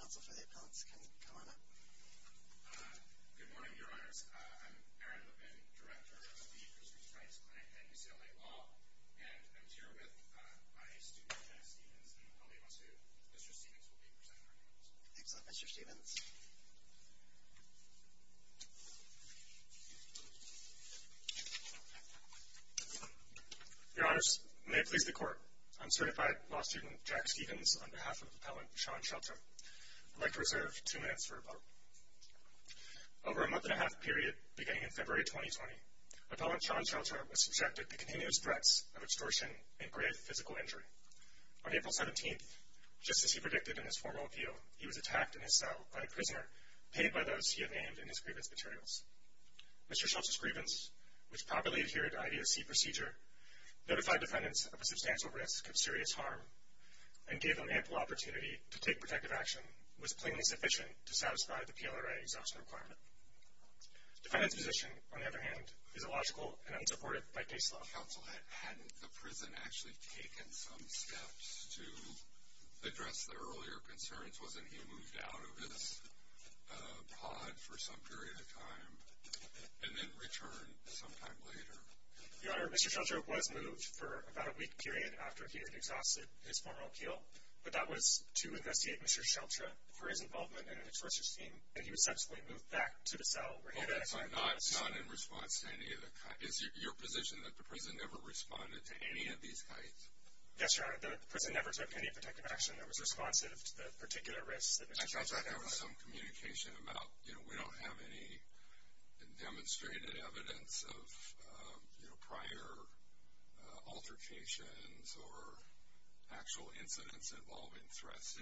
Council for the Appellants can come on up. Good morning, Your Honors. I'm Aaron Levin, Director of the Christensen's Rights Clinic at UCLA Law, and I'm here with my student, Jack Stephens, and I'll leave us to Mr. Stephens will be presenting arguments. Excellent, Mr. Stephens. Your Honors, may it please the Court, I'm certified law student Jack Stephens on behalf of Appellant Sean Sheltra. I'd like to reserve two minutes for a vote. Over a month and a half period beginning in February 2020, Appellant Sean Sheltra was subjected to continuous threats of extortion and grave physical injury. On April 17th, just as he predicted in his formal appeal, he was attacked in his cell by a prisoner, paid by those he had named in his grievance materials. Mr. Sheltra's grievance, which properly adhered to IDOC procedure, notified defendants of a substantial risk of serious harm, and gave them ample opportunity to take protective action, was plainly sufficient to satisfy the PLRA exhaustion requirement. Defendant's position, on the other hand, is illogical and unsupported by case law. Counsel, hadn't the prison actually taken some steps to address their earlier concerns? Wasn't he moved out of his pod for some period of time and then returned sometime later? Your Honor, Mr. Sheltra was moved for about a week period after he had exhausted his formal appeal, but that was to investigate Mr. Sheltra for his involvement in an extortion scheme, and he was subsequently moved back to the cell where he had actually been. So not in response to any of the – is it your position that the prison never responded to any of these kinds? Yes, Your Honor, the prison never took any protective action that was responsive to the particular risks that Mr. Sheltra identified. I thought there was some communication about, you know, we don't have any demonstrated evidence of, you know, prior altercations or actual incidents involving threats.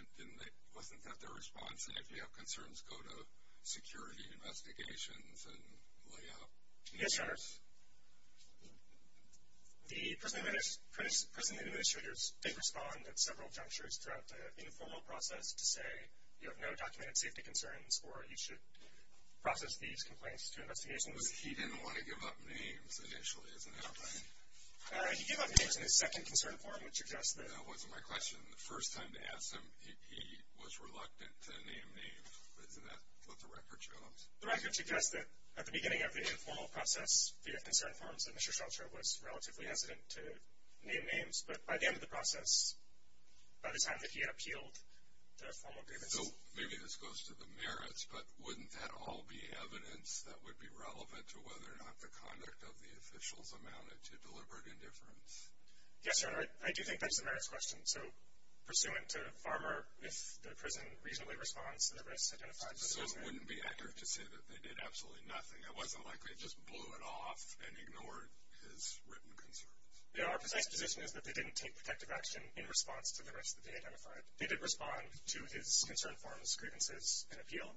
Wasn't that their response, that if you have concerns, go to security investigations and lay out names? Yes, Your Honor. The prison administrators did respond at several junctures throughout the informal process to say, you have no documented safety concerns or you should process these complaints to investigations. But he didn't want to give up names initially, is that right? He gave up names in his second concern form, which suggests that – That wasn't my question. The first time they asked him, he was reluctant to name names. Isn't that what the record shows? The record suggests that at the beginning of the informal process, the fifth concern form, Mr. Sheltra was relatively hesitant to name names. But by the end of the process, by the time that he had appealed the formal grievances – So maybe this goes to the merits, but wouldn't that all be evidence that would be relevant to whether or not the conduct of the officials amounted to deliberate indifference? Yes, Your Honor. I do think that's the merits question. So pursuant to Farmer, if the prison reasonably responds to the risks identified – So it wouldn't be accurate to say that they did absolutely nothing. It wasn't like they just blew it off and ignored his written concerns. Our precise position is that they didn't take protective action in response to the risks that they identified. They did respond to his concern forms, grievances, and appeal,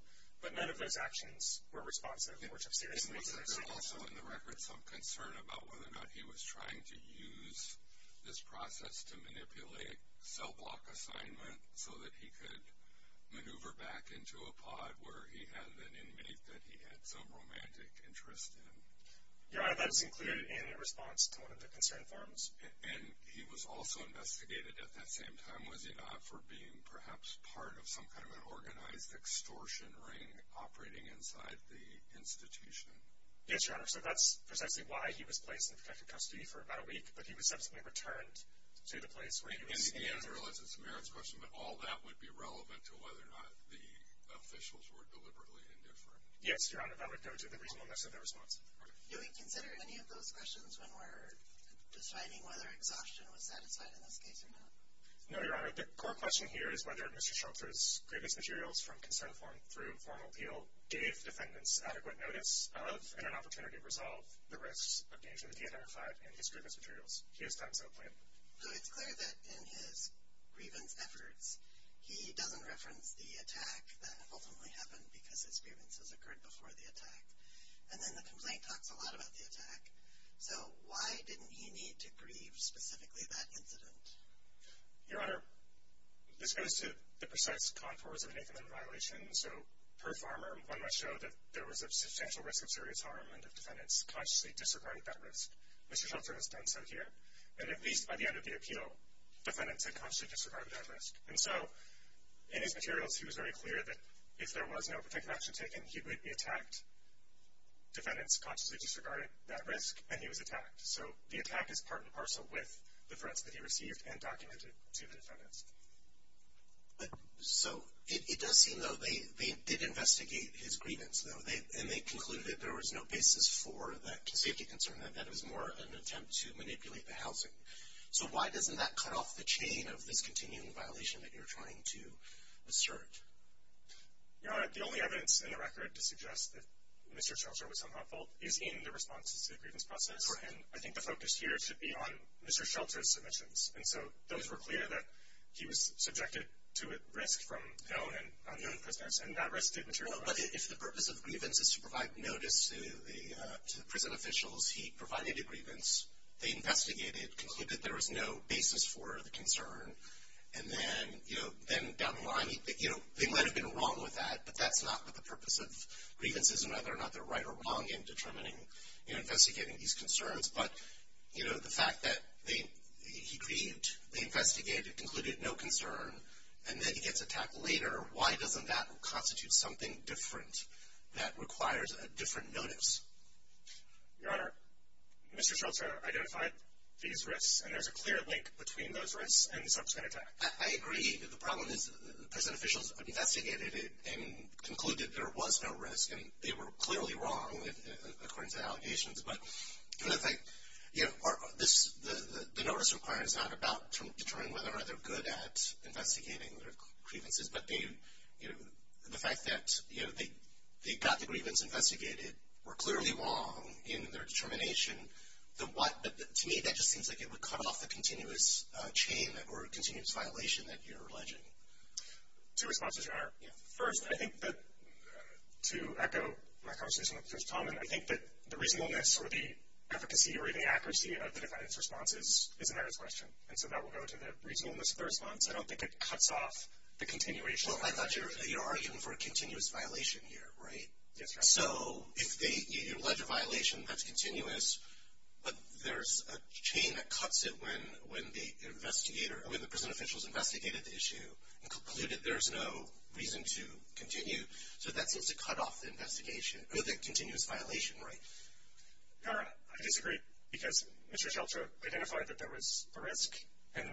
but none of those actions were responsive or took seriously to the situation. Was there also in the record some concern about whether or not he was trying to use this process to manipulate cell block assignment so that he could maneuver back into a pod where he had an inmate that he had some romantic interest in? Your Honor, that was included in a response to one of the concern forms. And he was also investigated at that same time, was he not, for being perhaps part of some kind of an organized extortion ring operating inside the institution? Yes, Your Honor. So that's precisely why he was placed in protective custody for about a week, but he was subsequently returned to the place where he was being interrogated. In the end, I realize it's a merits question, but all that would be relevant to whether or not the officials were deliberately indifferent. Yes, Your Honor. That would go to the reasonableness of their response. Do we consider any of those questions when we're deciding whether exhaustion was satisfied in this case or not? No, Your Honor. The core question here is whether Mr. Schultz's grievance materials from concern form through formal appeal gave defendants adequate notice of and an opportunity to resolve the risks of danger that he identified in his grievance materials. He has done so plainly. So it's clear that in his grievance efforts, he doesn't reference the attack that ultimately happened because his grievance has occurred before the attack. And then the complaint talks a lot about the attack. So why didn't he need to grieve specifically that incident? Your Honor, this goes to the precise contours of an infamous violation. So per farmer, one must show that there was a substantial risk of serious harm and that defendants consciously disregarded that risk. Mr. Schultz has done so here. And at least by the end of the appeal, defendants had consciously disregarded that risk. And so in his materials, he was very clear that if there was no protective action taken, he would be attacked. Defendants consciously disregarded that risk, and he was attacked. So the attack is part and parcel with the threats that he received and documented to the defendants. So it does seem, though, they did investigate his grievance, though, and they concluded that there was no basis for that safety concern, that that was more of an attempt to manipulate the housing. So why doesn't that cut off the chain of this continuing violation that you're trying to assert? Your Honor, the only evidence in the record to suggest that Mr. Schultz was somehow at fault is in the response to the grievance process. And I think the focus here should be on Mr. Schultz's submissions. And so those were clear that he was subjected to a risk from known and unknown prisoners, and that risk did materialize. But if the purpose of grievance is to provide notice to the prison officials, he provided a grievance. They investigated, concluded there was no basis for the concern, and then down the line they might have been wrong with that, but that's not what the purpose of grievance is, and whether or not they're right or wrong in determining and investigating these concerns. But the fact that he grieved, they investigated, concluded no concern, and then he gets attacked later, why doesn't that constitute something different that requires a different notice? Your Honor, Mr. Schultz identified these risks, and there's a clear link between those risks and the subsequent attack. I agree. The problem is the prison officials investigated it and concluded there was no risk, and they were clearly wrong according to the allegations. But the no-risk requirement is not about determining whether or not they're good at investigating their grievances, but the fact that they got the grievance investigated, were clearly wrong in their determination, to me that just seems like it would cut off the continuous chain or continuous violation that you're alleging. Two responses, Your Honor. First, I think that to echo my conversation with Judge Talman, I think that the reasonableness or the efficacy or the accuracy of the defendant's response is a matter of question, and so that will go to the reasonableness of the response. I don't think it cuts off the continuation. Well, I thought you were arguing for a continuous violation here, right? Yes, Your Honor. So if you allege a violation, that's continuous, but there's a chain that cuts it when the prison officials investigated the issue and concluded there's no reason to continue. So that seems to cut off the continuous violation, right? Your Honor, I disagree because Mr. Seltzer identified that there was a risk, and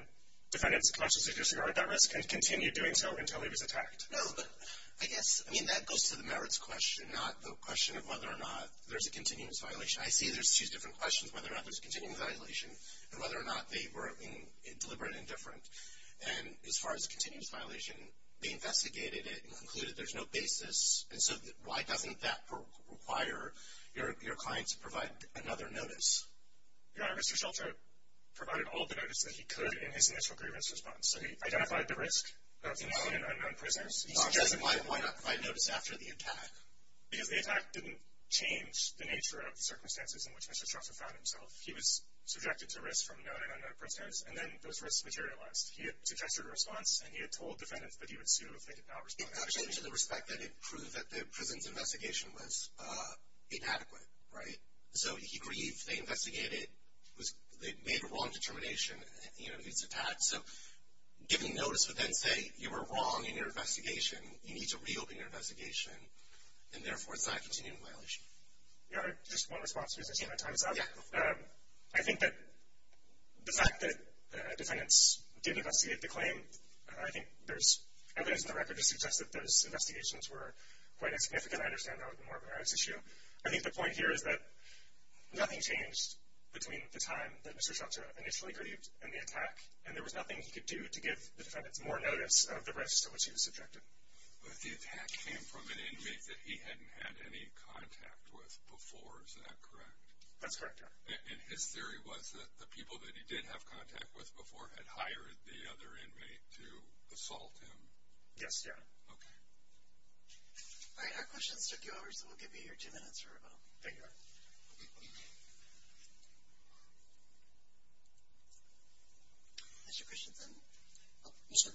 defendants consciously disregard that risk and continue doing so until he was attacked. No, but I guess, I mean, that goes to the merits question, not the question of whether or not there's a continuous violation. I see there's two different questions, whether or not there's a continuous violation and whether or not they were deliberate and different. And as far as a continuous violation, they investigated it and concluded there's no basis, and so why doesn't that require your client to provide another notice? Your Honor, Mr. Seltzer provided all the notice that he could in his initial grievance response. So he identified the risk of known and unknown prisoners. He suggested why not provide notice after the attack. Because the attack didn't change the nature of the circumstances in which Mr. Seltzer found himself. He was subjected to risk from known and unknown prisoners, and then those risks materialized. He had suggested a response, and he had told defendants that he would sue if they did not respond. It actually, to the respect that it proved that the prison's investigation was inadequate, right? So he grieved, they investigated, they made a wrong determination, you know, his attack. So giving notice would then say you were wrong in your investigation. You need to reopen your investigation, and therefore it's not a continuous violation. Your Honor, just one response, because I see my time is up. Yeah. I think that the fact that defendants didn't investigate the claim, I think there's evidence in the record to suggest that those investigations were quite insignificant. I understand that would be more of a merits issue. I think the point here is that nothing changed between the time that Mr. Seltzer initially grieved and the attack, and there was nothing he could do to give the defendants more notice of the risks to which he was subjected. But the attack came from an inmate that he hadn't had any contact with before, is that correct? That's correct, Your Honor. And his theory was that the people that he did have contact with before had hired the other inmate to assault him? Yes, Your Honor. Okay. All right, our questions took you over, so we'll give you your two minutes or so. Thank you, Your Honor. Is your questions in? Yes, sir.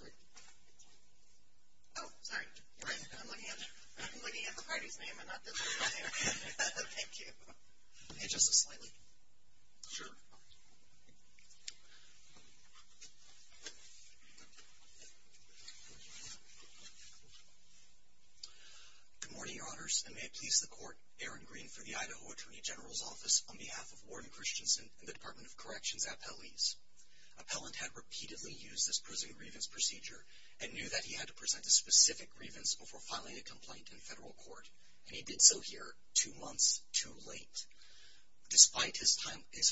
Oh, sorry. I'm looking at the party's name and not this one. Thank you. Can you adjust this slightly? Sure. Good morning, Your Honors, and may it please the Court, Aaron Green for the Idaho Attorney General's Office, on behalf of Warren Christensen and the Department of Corrections appellees. Appellant had repeatedly used this prison grievance procedure and knew that he had to present a specific grievance before filing a complaint in federal court, and he did so here two months too late. Despite his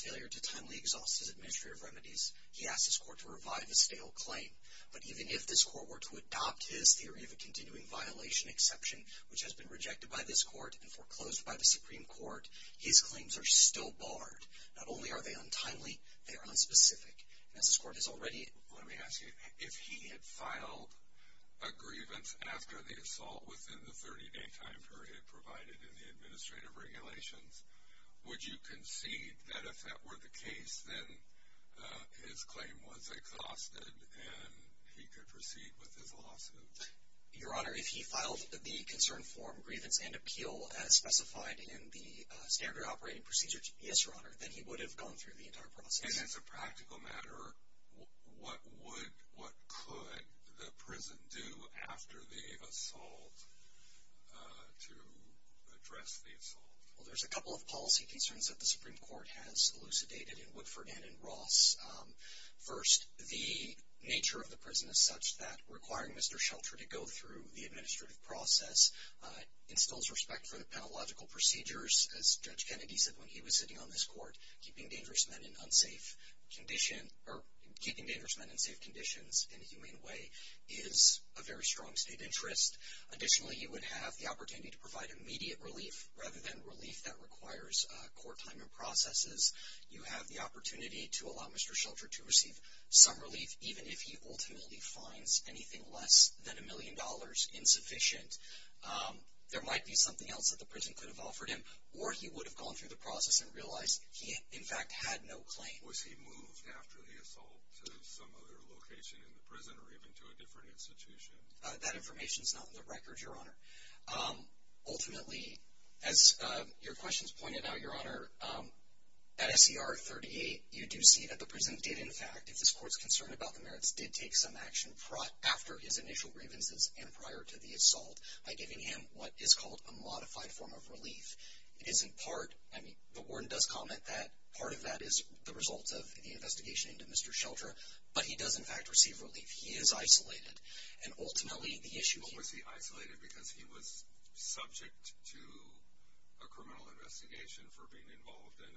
failure to timely exhaust his administrative remedies, he asked his court to revive his fatal claim. But even if this court were to adopt his theory of a continuing violation exception, which has been rejected by this court and foreclosed by the Supreme Court, his claims are still barred. Not only are they untimely, they are unspecific. Let me ask you, if he had filed a grievance after the assault within the 30-day time period provided in the administrative regulations, would you concede that if that were the case, then his claim was exhausted and he could proceed with his lawsuit? Your Honor, if he filed the concern form grievance and appeal as specified in the standard operating procedure, yes, Your Honor, then he would have gone through the entire process. And as a practical matter, what could the prison do after the assault to address the assault? Well, there's a couple of policy concerns that the Supreme Court has elucidated in Woodford and in Ross. First, the nature of the prison is such that requiring Mr. Shelter to go through the administrative process instills respect for the pedagogical procedures. As Judge Kennedy said when he was sitting on this court, keeping dangerous men in unsafe condition or keeping dangerous men in safe conditions in a humane way is a very strong state interest. Additionally, he would have the opportunity to provide immediate relief rather than relief that requires court time and processes. You have the opportunity to allow Mr. Shelter to receive some relief, even if he ultimately finds anything less than a million dollars insufficient. There might be something else that the prison could have offered him, or he would have gone through the process and realized he in fact had no claim. Was he moved after the assault to some other location in the prison or even to a different institution? That information is not on the record, Your Honor. Ultimately, as your questions pointed out, Your Honor, at SCR 38 you do see that the prison did in fact, if this court is concerned about the merits, did take some action after his initial grievances and prior to the assault by giving him what is called a modified form of relief. It is in part, I mean, the warden does comment that part of that is the result of the investigation into Mr. Shelter, but he does in fact receive relief. He is isolated. What was he isolated because he was subject to a criminal investigation for being involved in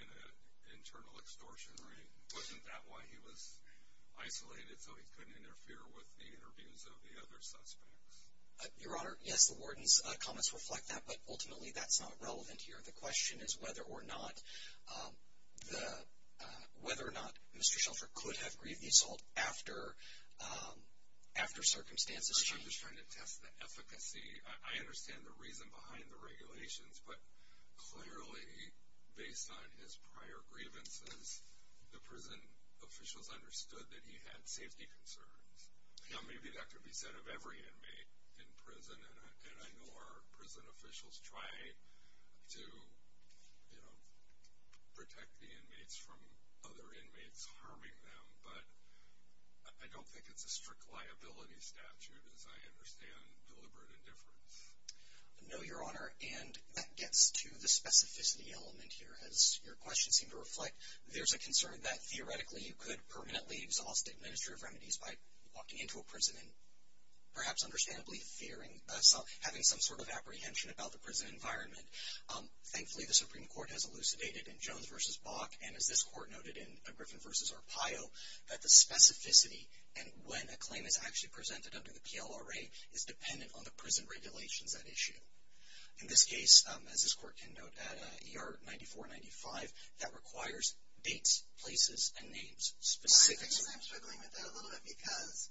an internal extortion, right? Wasn't that why he was isolated, so he couldn't interfere with the interviews of the other suspects? Your Honor, yes, the warden's comments reflect that, but ultimately that's not relevant here. The question is whether or not Mr. Shelter could have grieved the assault after circumstances changed. I'm just trying to test the efficacy. I understand the reason behind the regulations, but clearly based on his prior grievances, the prison officials understood that he had safety concerns. Maybe that could be said of every inmate in prison, and I know our prison officials try to protect the inmates from other inmates harming them, but I don't think it's a strict liability statute as I understand deliberate indifference. No, Your Honor, and that gets to the specificity element here. As your question seemed to reflect, there's a concern that theoretically you could permanently exhaust administrative remedies by walking into a prison and perhaps understandably having some sort of apprehension about the prison environment. Thankfully, the Supreme Court has elucidated in Jones v. Bach, and as this Court noted in Griffin v. Arpaio, that the specificity and when a claim is actually presented under the PLRA is dependent on the prison regulations at issue. In this case, as this Court can note, at ER 9495, that requires dates, places, and names specifically. I guess I'm struggling with that a little bit because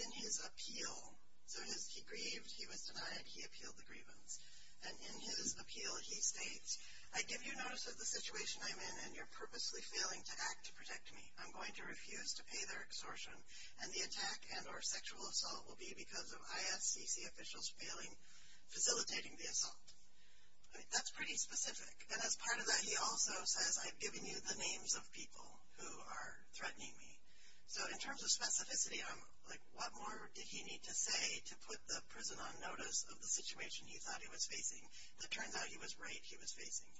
in his appeal, so he grieved, he was denied, he appealed the grievance, and in his appeal he states, I give you notice of the situation I'm in, and you're purposely failing to act to protect me. I'm going to refuse to pay their extortion, and the attack and or sexual assault will be because of ISCC officials facilitating the assault. That's pretty specific. And as part of that, he also says, I've given you the names of people who are threatening me. So in terms of specificity, I'm like, what more did he need to say to put the prison on notice of the situation he thought he was facing? It turns out he was right, he was facing.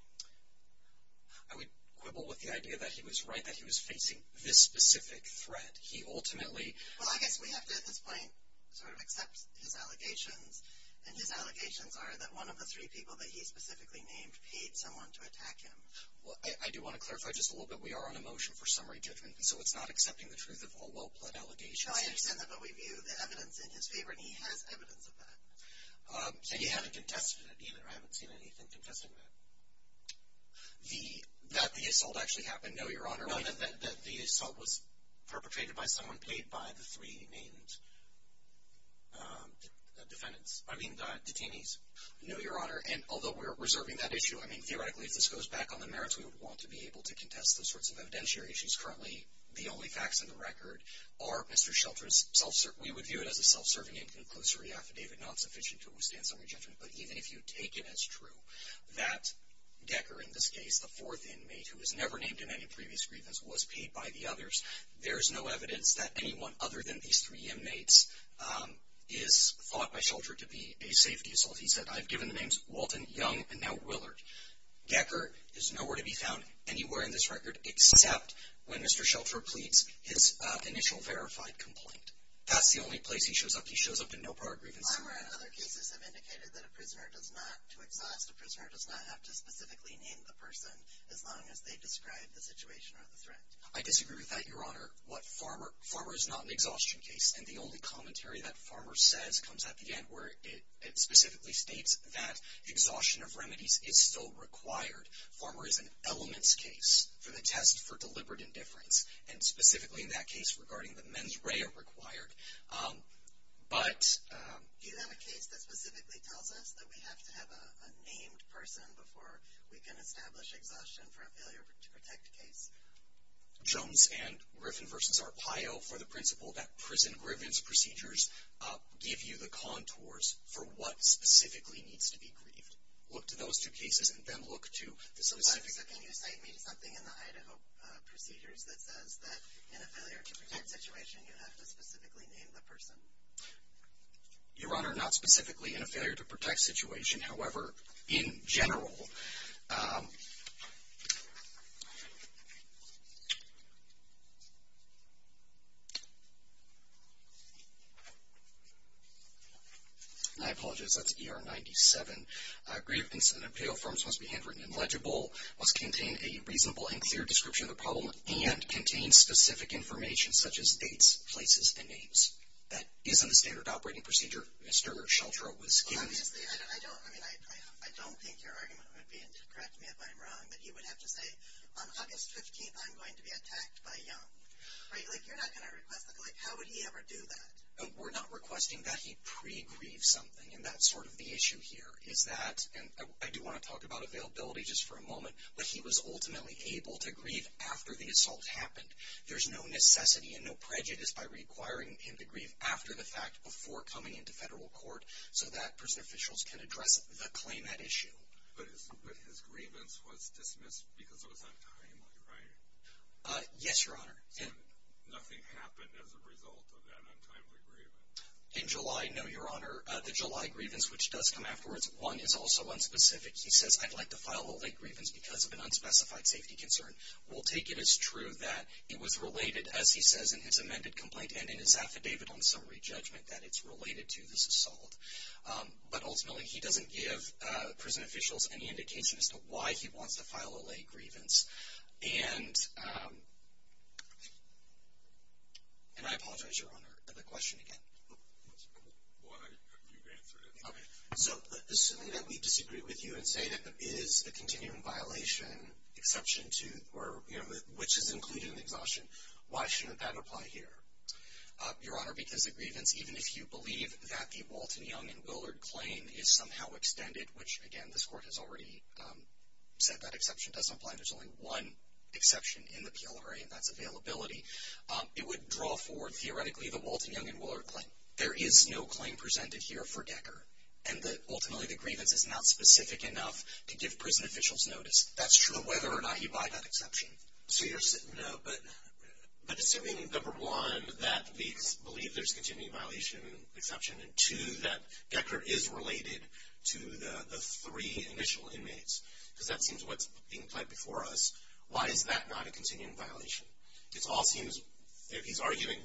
I would quibble with the idea that he was right, that he was facing this specific threat. He ultimately... Well, I guess we have to at this point sort of accept his allegations, and his allegations are that one of the three people that he specifically named paid someone to attack him. Well, I do want to clarify just a little bit. We are on a motion for summary judgment, so it's not accepting the truth of a low-blood allegation. No, I understand that, but we view the evidence in his favor, and he has evidence of that. And you haven't contested it, either. I haven't seen anything contesting that. That the assault actually happened? No, Your Honor. No, that the assault was perpetrated by someone paid by the three named defendants. I mean, detainees. No, Your Honor. And although we're reserving that issue, I mean, theoretically, if this goes back on the merits, we would want to be able to contest those sorts of evidentiary issues. Currently, the only facts in the record are Mr. Shelter's self-serving... We would view it as a self-serving and conclusory affidavit, not sufficient to withstand summary judgment. But even if you take it as true, that Decker, in this case, the fourth inmate, who was never named in any previous grievance, was paid by the others, there's no evidence that anyone other than these three inmates is thought by Shelter to be a safety assault. He said, I've given the names Walton, Young, and now Willard. Decker is nowhere to be found anywhere in this record except when Mr. Shelter pleads his initial verified complaint. That's the only place he shows up. He shows up in no prior grievance. I'm aware other cases have indicated that a prisoner does not, to exhaust a prisoner, does not have to specifically name the person as long as they describe the situation or the threat. I disagree with that, Your Honor. Farmer is not an exhaustion case, and the only commentary that Farmer says comes at the end where it specifically states that exhaustion of remedies is still required. Farmer is an elements case for the test for deliberate indifference, and specifically in that case regarding the mens rea required. But... Do you have a case that specifically tells us that we have to have a named person before we can establish exhaustion for a failure to protect case? Jones and Griffin v. Arpaio for the principle that prison grievance procedures give you the contours for what specifically needs to be grieved. Look to those two cases and then look to the specific... So can you cite me to something in the Idaho procedures that says that in a failure to protect situation you have to specifically name the person? Your Honor, not specifically in a failure to protect situation. However, in general... I apologize, that's ER 97. Grievance and Arpaio forms must be handwritten and legible, must contain a reasonable and clear description of the problem, and contain specific information such as dates, places, and names. That is in the standard operating procedure Mr. Sheltrow was given. Obviously, I don't think your argument would be, and correct me if I'm wrong, that he would have to say, on August 15th I'm going to be attacked by young. You're not going to request, how would he ever do that? We're not requesting that he pre-grieve something, and that's sort of the issue here, is that, and I do want to talk about availability just for a moment, but he was ultimately able to grieve after the assault happened. There's no necessity and no prejudice by requiring him to grieve after the fact before coming into federal court, so that prison officials can address the claim at issue. But his grievance was dismissed because it was untimely, right? Yes, your Honor. So nothing happened as a result of that untimely grievance? In July, no, your Honor. The July grievance, which does come afterwards, one is also unspecific. He says, I'd like to file a late grievance because of an unspecified safety concern. We'll take it as true that it was related, as he says in his amended complaint and in his affidavit on summary judgment, that it's related to this assault. But ultimately, he doesn't give prison officials any indication as to why he wants to file a late grievance. And I apologize, your Honor, for the question again. Why have you answered it? Okay. So assuming that we disagree with you and say that it is a continuing violation exception to or, you know, which is included in the exhaustion, why shouldn't that apply here? Your Honor, because the grievance, even if you believe that the Walton, Young, and Willard claim is somehow extended, which, again, this court has already said that exception doesn't apply, there's only one exception in the PLRA, and that's availability, it would draw forward theoretically the Walton, Young, and Willard claim. There is no claim presented here for Decker, and ultimately the grievance is not specific enough to give prison officials notice. That's true, whether or not you buy that exception. So you're saying, no, but assuming, number one, that we believe there's a continuing violation exception, and two, that Decker is related to the three initial inmates, because that seems what's being pled before us, why is that not a continuing violation? It all seems, if he's arguing,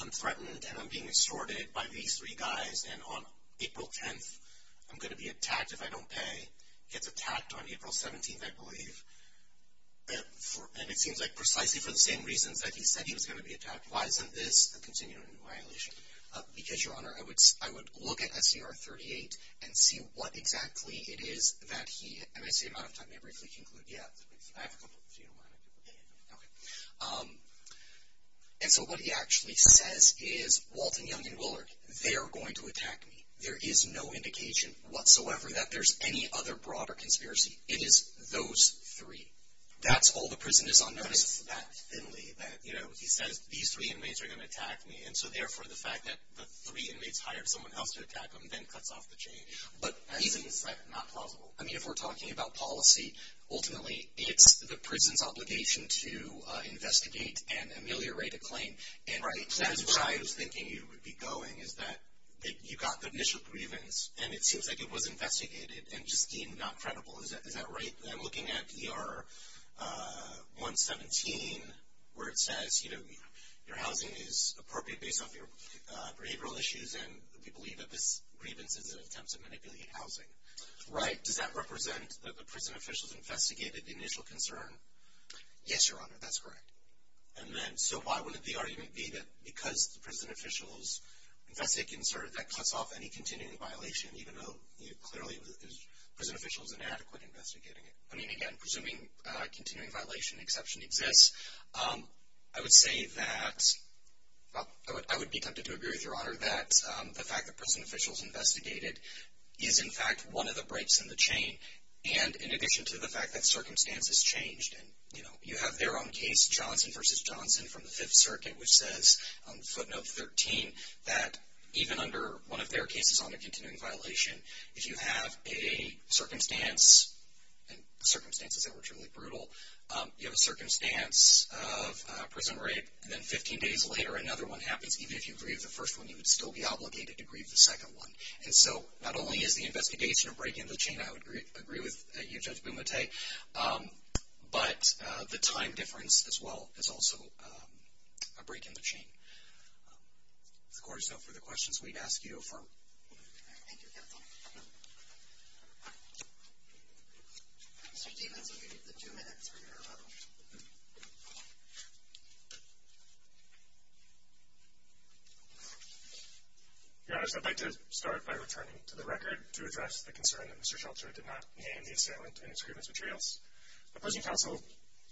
I'm threatened and I'm being extorted by these three guys, and on April 10th I'm going to be attacked if I don't pay, gets attacked on April 17th, I believe, and it seems like precisely for the same reasons that he said he was going to be attacked, why isn't this a continuing violation? Because, Your Honor, I would look at SCR 38 and see what exactly it is that he, and I see I'm out of time, may I briefly conclude? Yeah, I have a couple, if you don't mind. Okay. And so what he actually says is, Walton, Young, and Willard, they're going to attack me. There is no indication whatsoever that there's any other broader conspiracy. It is those three. That's all the prison is on notice. But is it that thinly that, you know, he says these three inmates are going to attack me, and so therefore the fact that the three inmates hired someone else to attack them then cuts off the change. But isn't that not plausible? I mean, if we're talking about policy, ultimately it's the prison's obligation to investigate and ameliorate a claim, and that is where I was thinking you would be going, is that you got the initial grievance, and it seems like it was investigated and just deemed not credible. Is that right? I'm looking at ER 117 where it says, you know, your housing is appropriate based off your behavioral issues, and we believe that this grievance is an attempt to manipulate housing. Right. Does that represent that the prison officials investigated the initial concern? Yes, Your Honor. That's correct. And then, so why wouldn't the argument be that because the prison officials investigated the concern, that cuts off any continuing violation, even though, you know, clearly the prison official is inadequate in investigating it? I mean, again, presuming a continuing violation exception exists, I would say that, well, I would be tempted to agree with Your Honor that the fact that prison officials investigated is, in fact, one of the breaks in the chain, and in addition to the fact that circumstances changed, and, you know, you have their own case, Johnson v. Johnson from the Fifth Circuit, which says on footnote 13 that even under one of their cases on a continuing violation, if you have a circumstance, and circumstances that were truly brutal, you have a circumstance of prison rape, and then 15 days later another one happens, even if you grieve the first one, you would still be obligated to grieve the second one. And so not only is the investigation a break in the chain, I would agree with you, Judge Bumate, but the time difference as well is also a break in the chain. If the Court is up for further questions, we'd ask you to affirm. Thank you, counsel. Mr. Stephenson, you have two minutes for your rebuttal. Your Honor, so I'd like to start by returning to the record to address the concern that Mr. Shelter did not name the assailant in his grievance materials. The prison counsel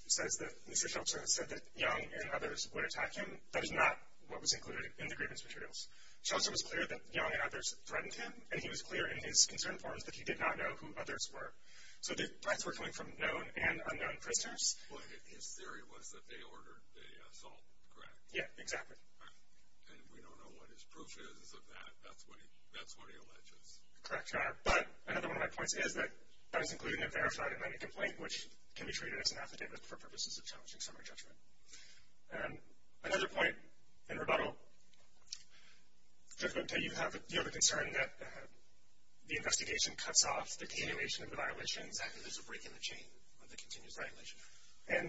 says that Mr. Shelter said that Young and others would attack him. That is not what was included in the grievance materials. Shelter was clear that Young and others threatened him, and he was clear in his concern forms that he did not know who others were. So the threats were coming from known and unknown prisoners? Well, his theory was that they ordered the assault, correct? Yeah, exactly. And we don't know what his proof is of that. That's what he alleges. Correct, Your Honor. But another one of my points is that that is included in the Verified Inmate Complaint, which can be treated as an affidavit for purposes of challenging summary judgment. Another point in rebuttal, you have the concern that the investigation cuts off the continuation of the violations after there's a break in the chain of the continuous violation. And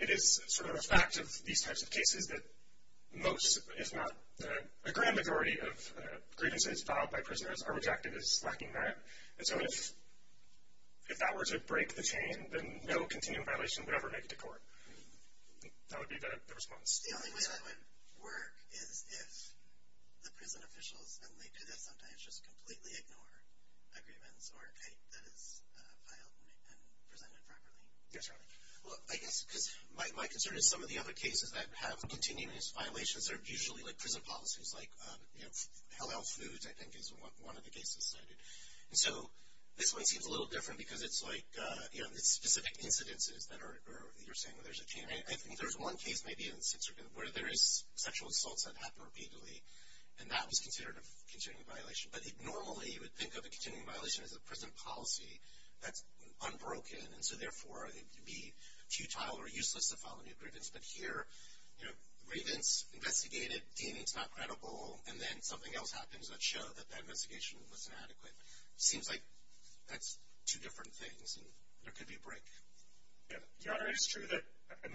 it is sort of a fact of these types of cases that most, if not a grand majority, of grievances filed by prisoners are rejected as lacking merit. And so if that were to break the chain, then no continuing violation would ever make it to court. That would be the response. The only way that would work is if the prison officials, and they do that sometimes, just completely ignore agreements or a case that is filed and presented properly. Yes, Your Honor. Well, I guess because my concern is some of the other cases that have continuous violations are usually like prison policies like, you know, Hell-Hell Foods, I think, is one of the cases cited. And so this one seems a little different because it's like, you know, the specific incidences that you're saying there's a chain. I think there's one case maybe where there is sexual assaults that happen repeatedly, and that was considered a continuing violation. But normally you would think of a continuing violation as a prison policy that's unbroken, and so therefore it would be futile or useless to file a new grievance. But here, you know, grievance investigated, deeming it's not credible, and then something else happens that showed that that investigation was inadequate. It seems like that's two different things, and there could be a break. Yeah. Your Honor, it is true that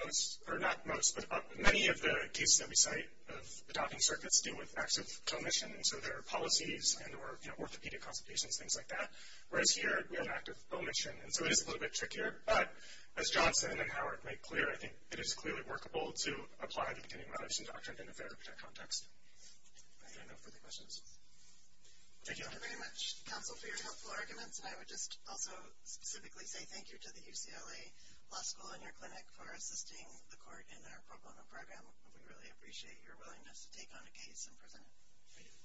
most, or not most, but many of the cases that we cite of the docking circuits deal with acts of co-omission. So there are policies and there were, you know, orthopedic consultations, things like that. Whereas here we have an act of co-omission, and so it is a little bit trickier. But as Johnson and Howard make clear, I think it is clearly workable to apply the continuing violation doctrine in a fair context. Are there no further questions? Thank you, Your Honor. Thank you very much, counsel, for your helpful arguments. And I would just also specifically say thank you to the UCLA Law School and your clinic for assisting the court in our pro bono program. We really appreciate your willingness to take on a case and present it. Thank you.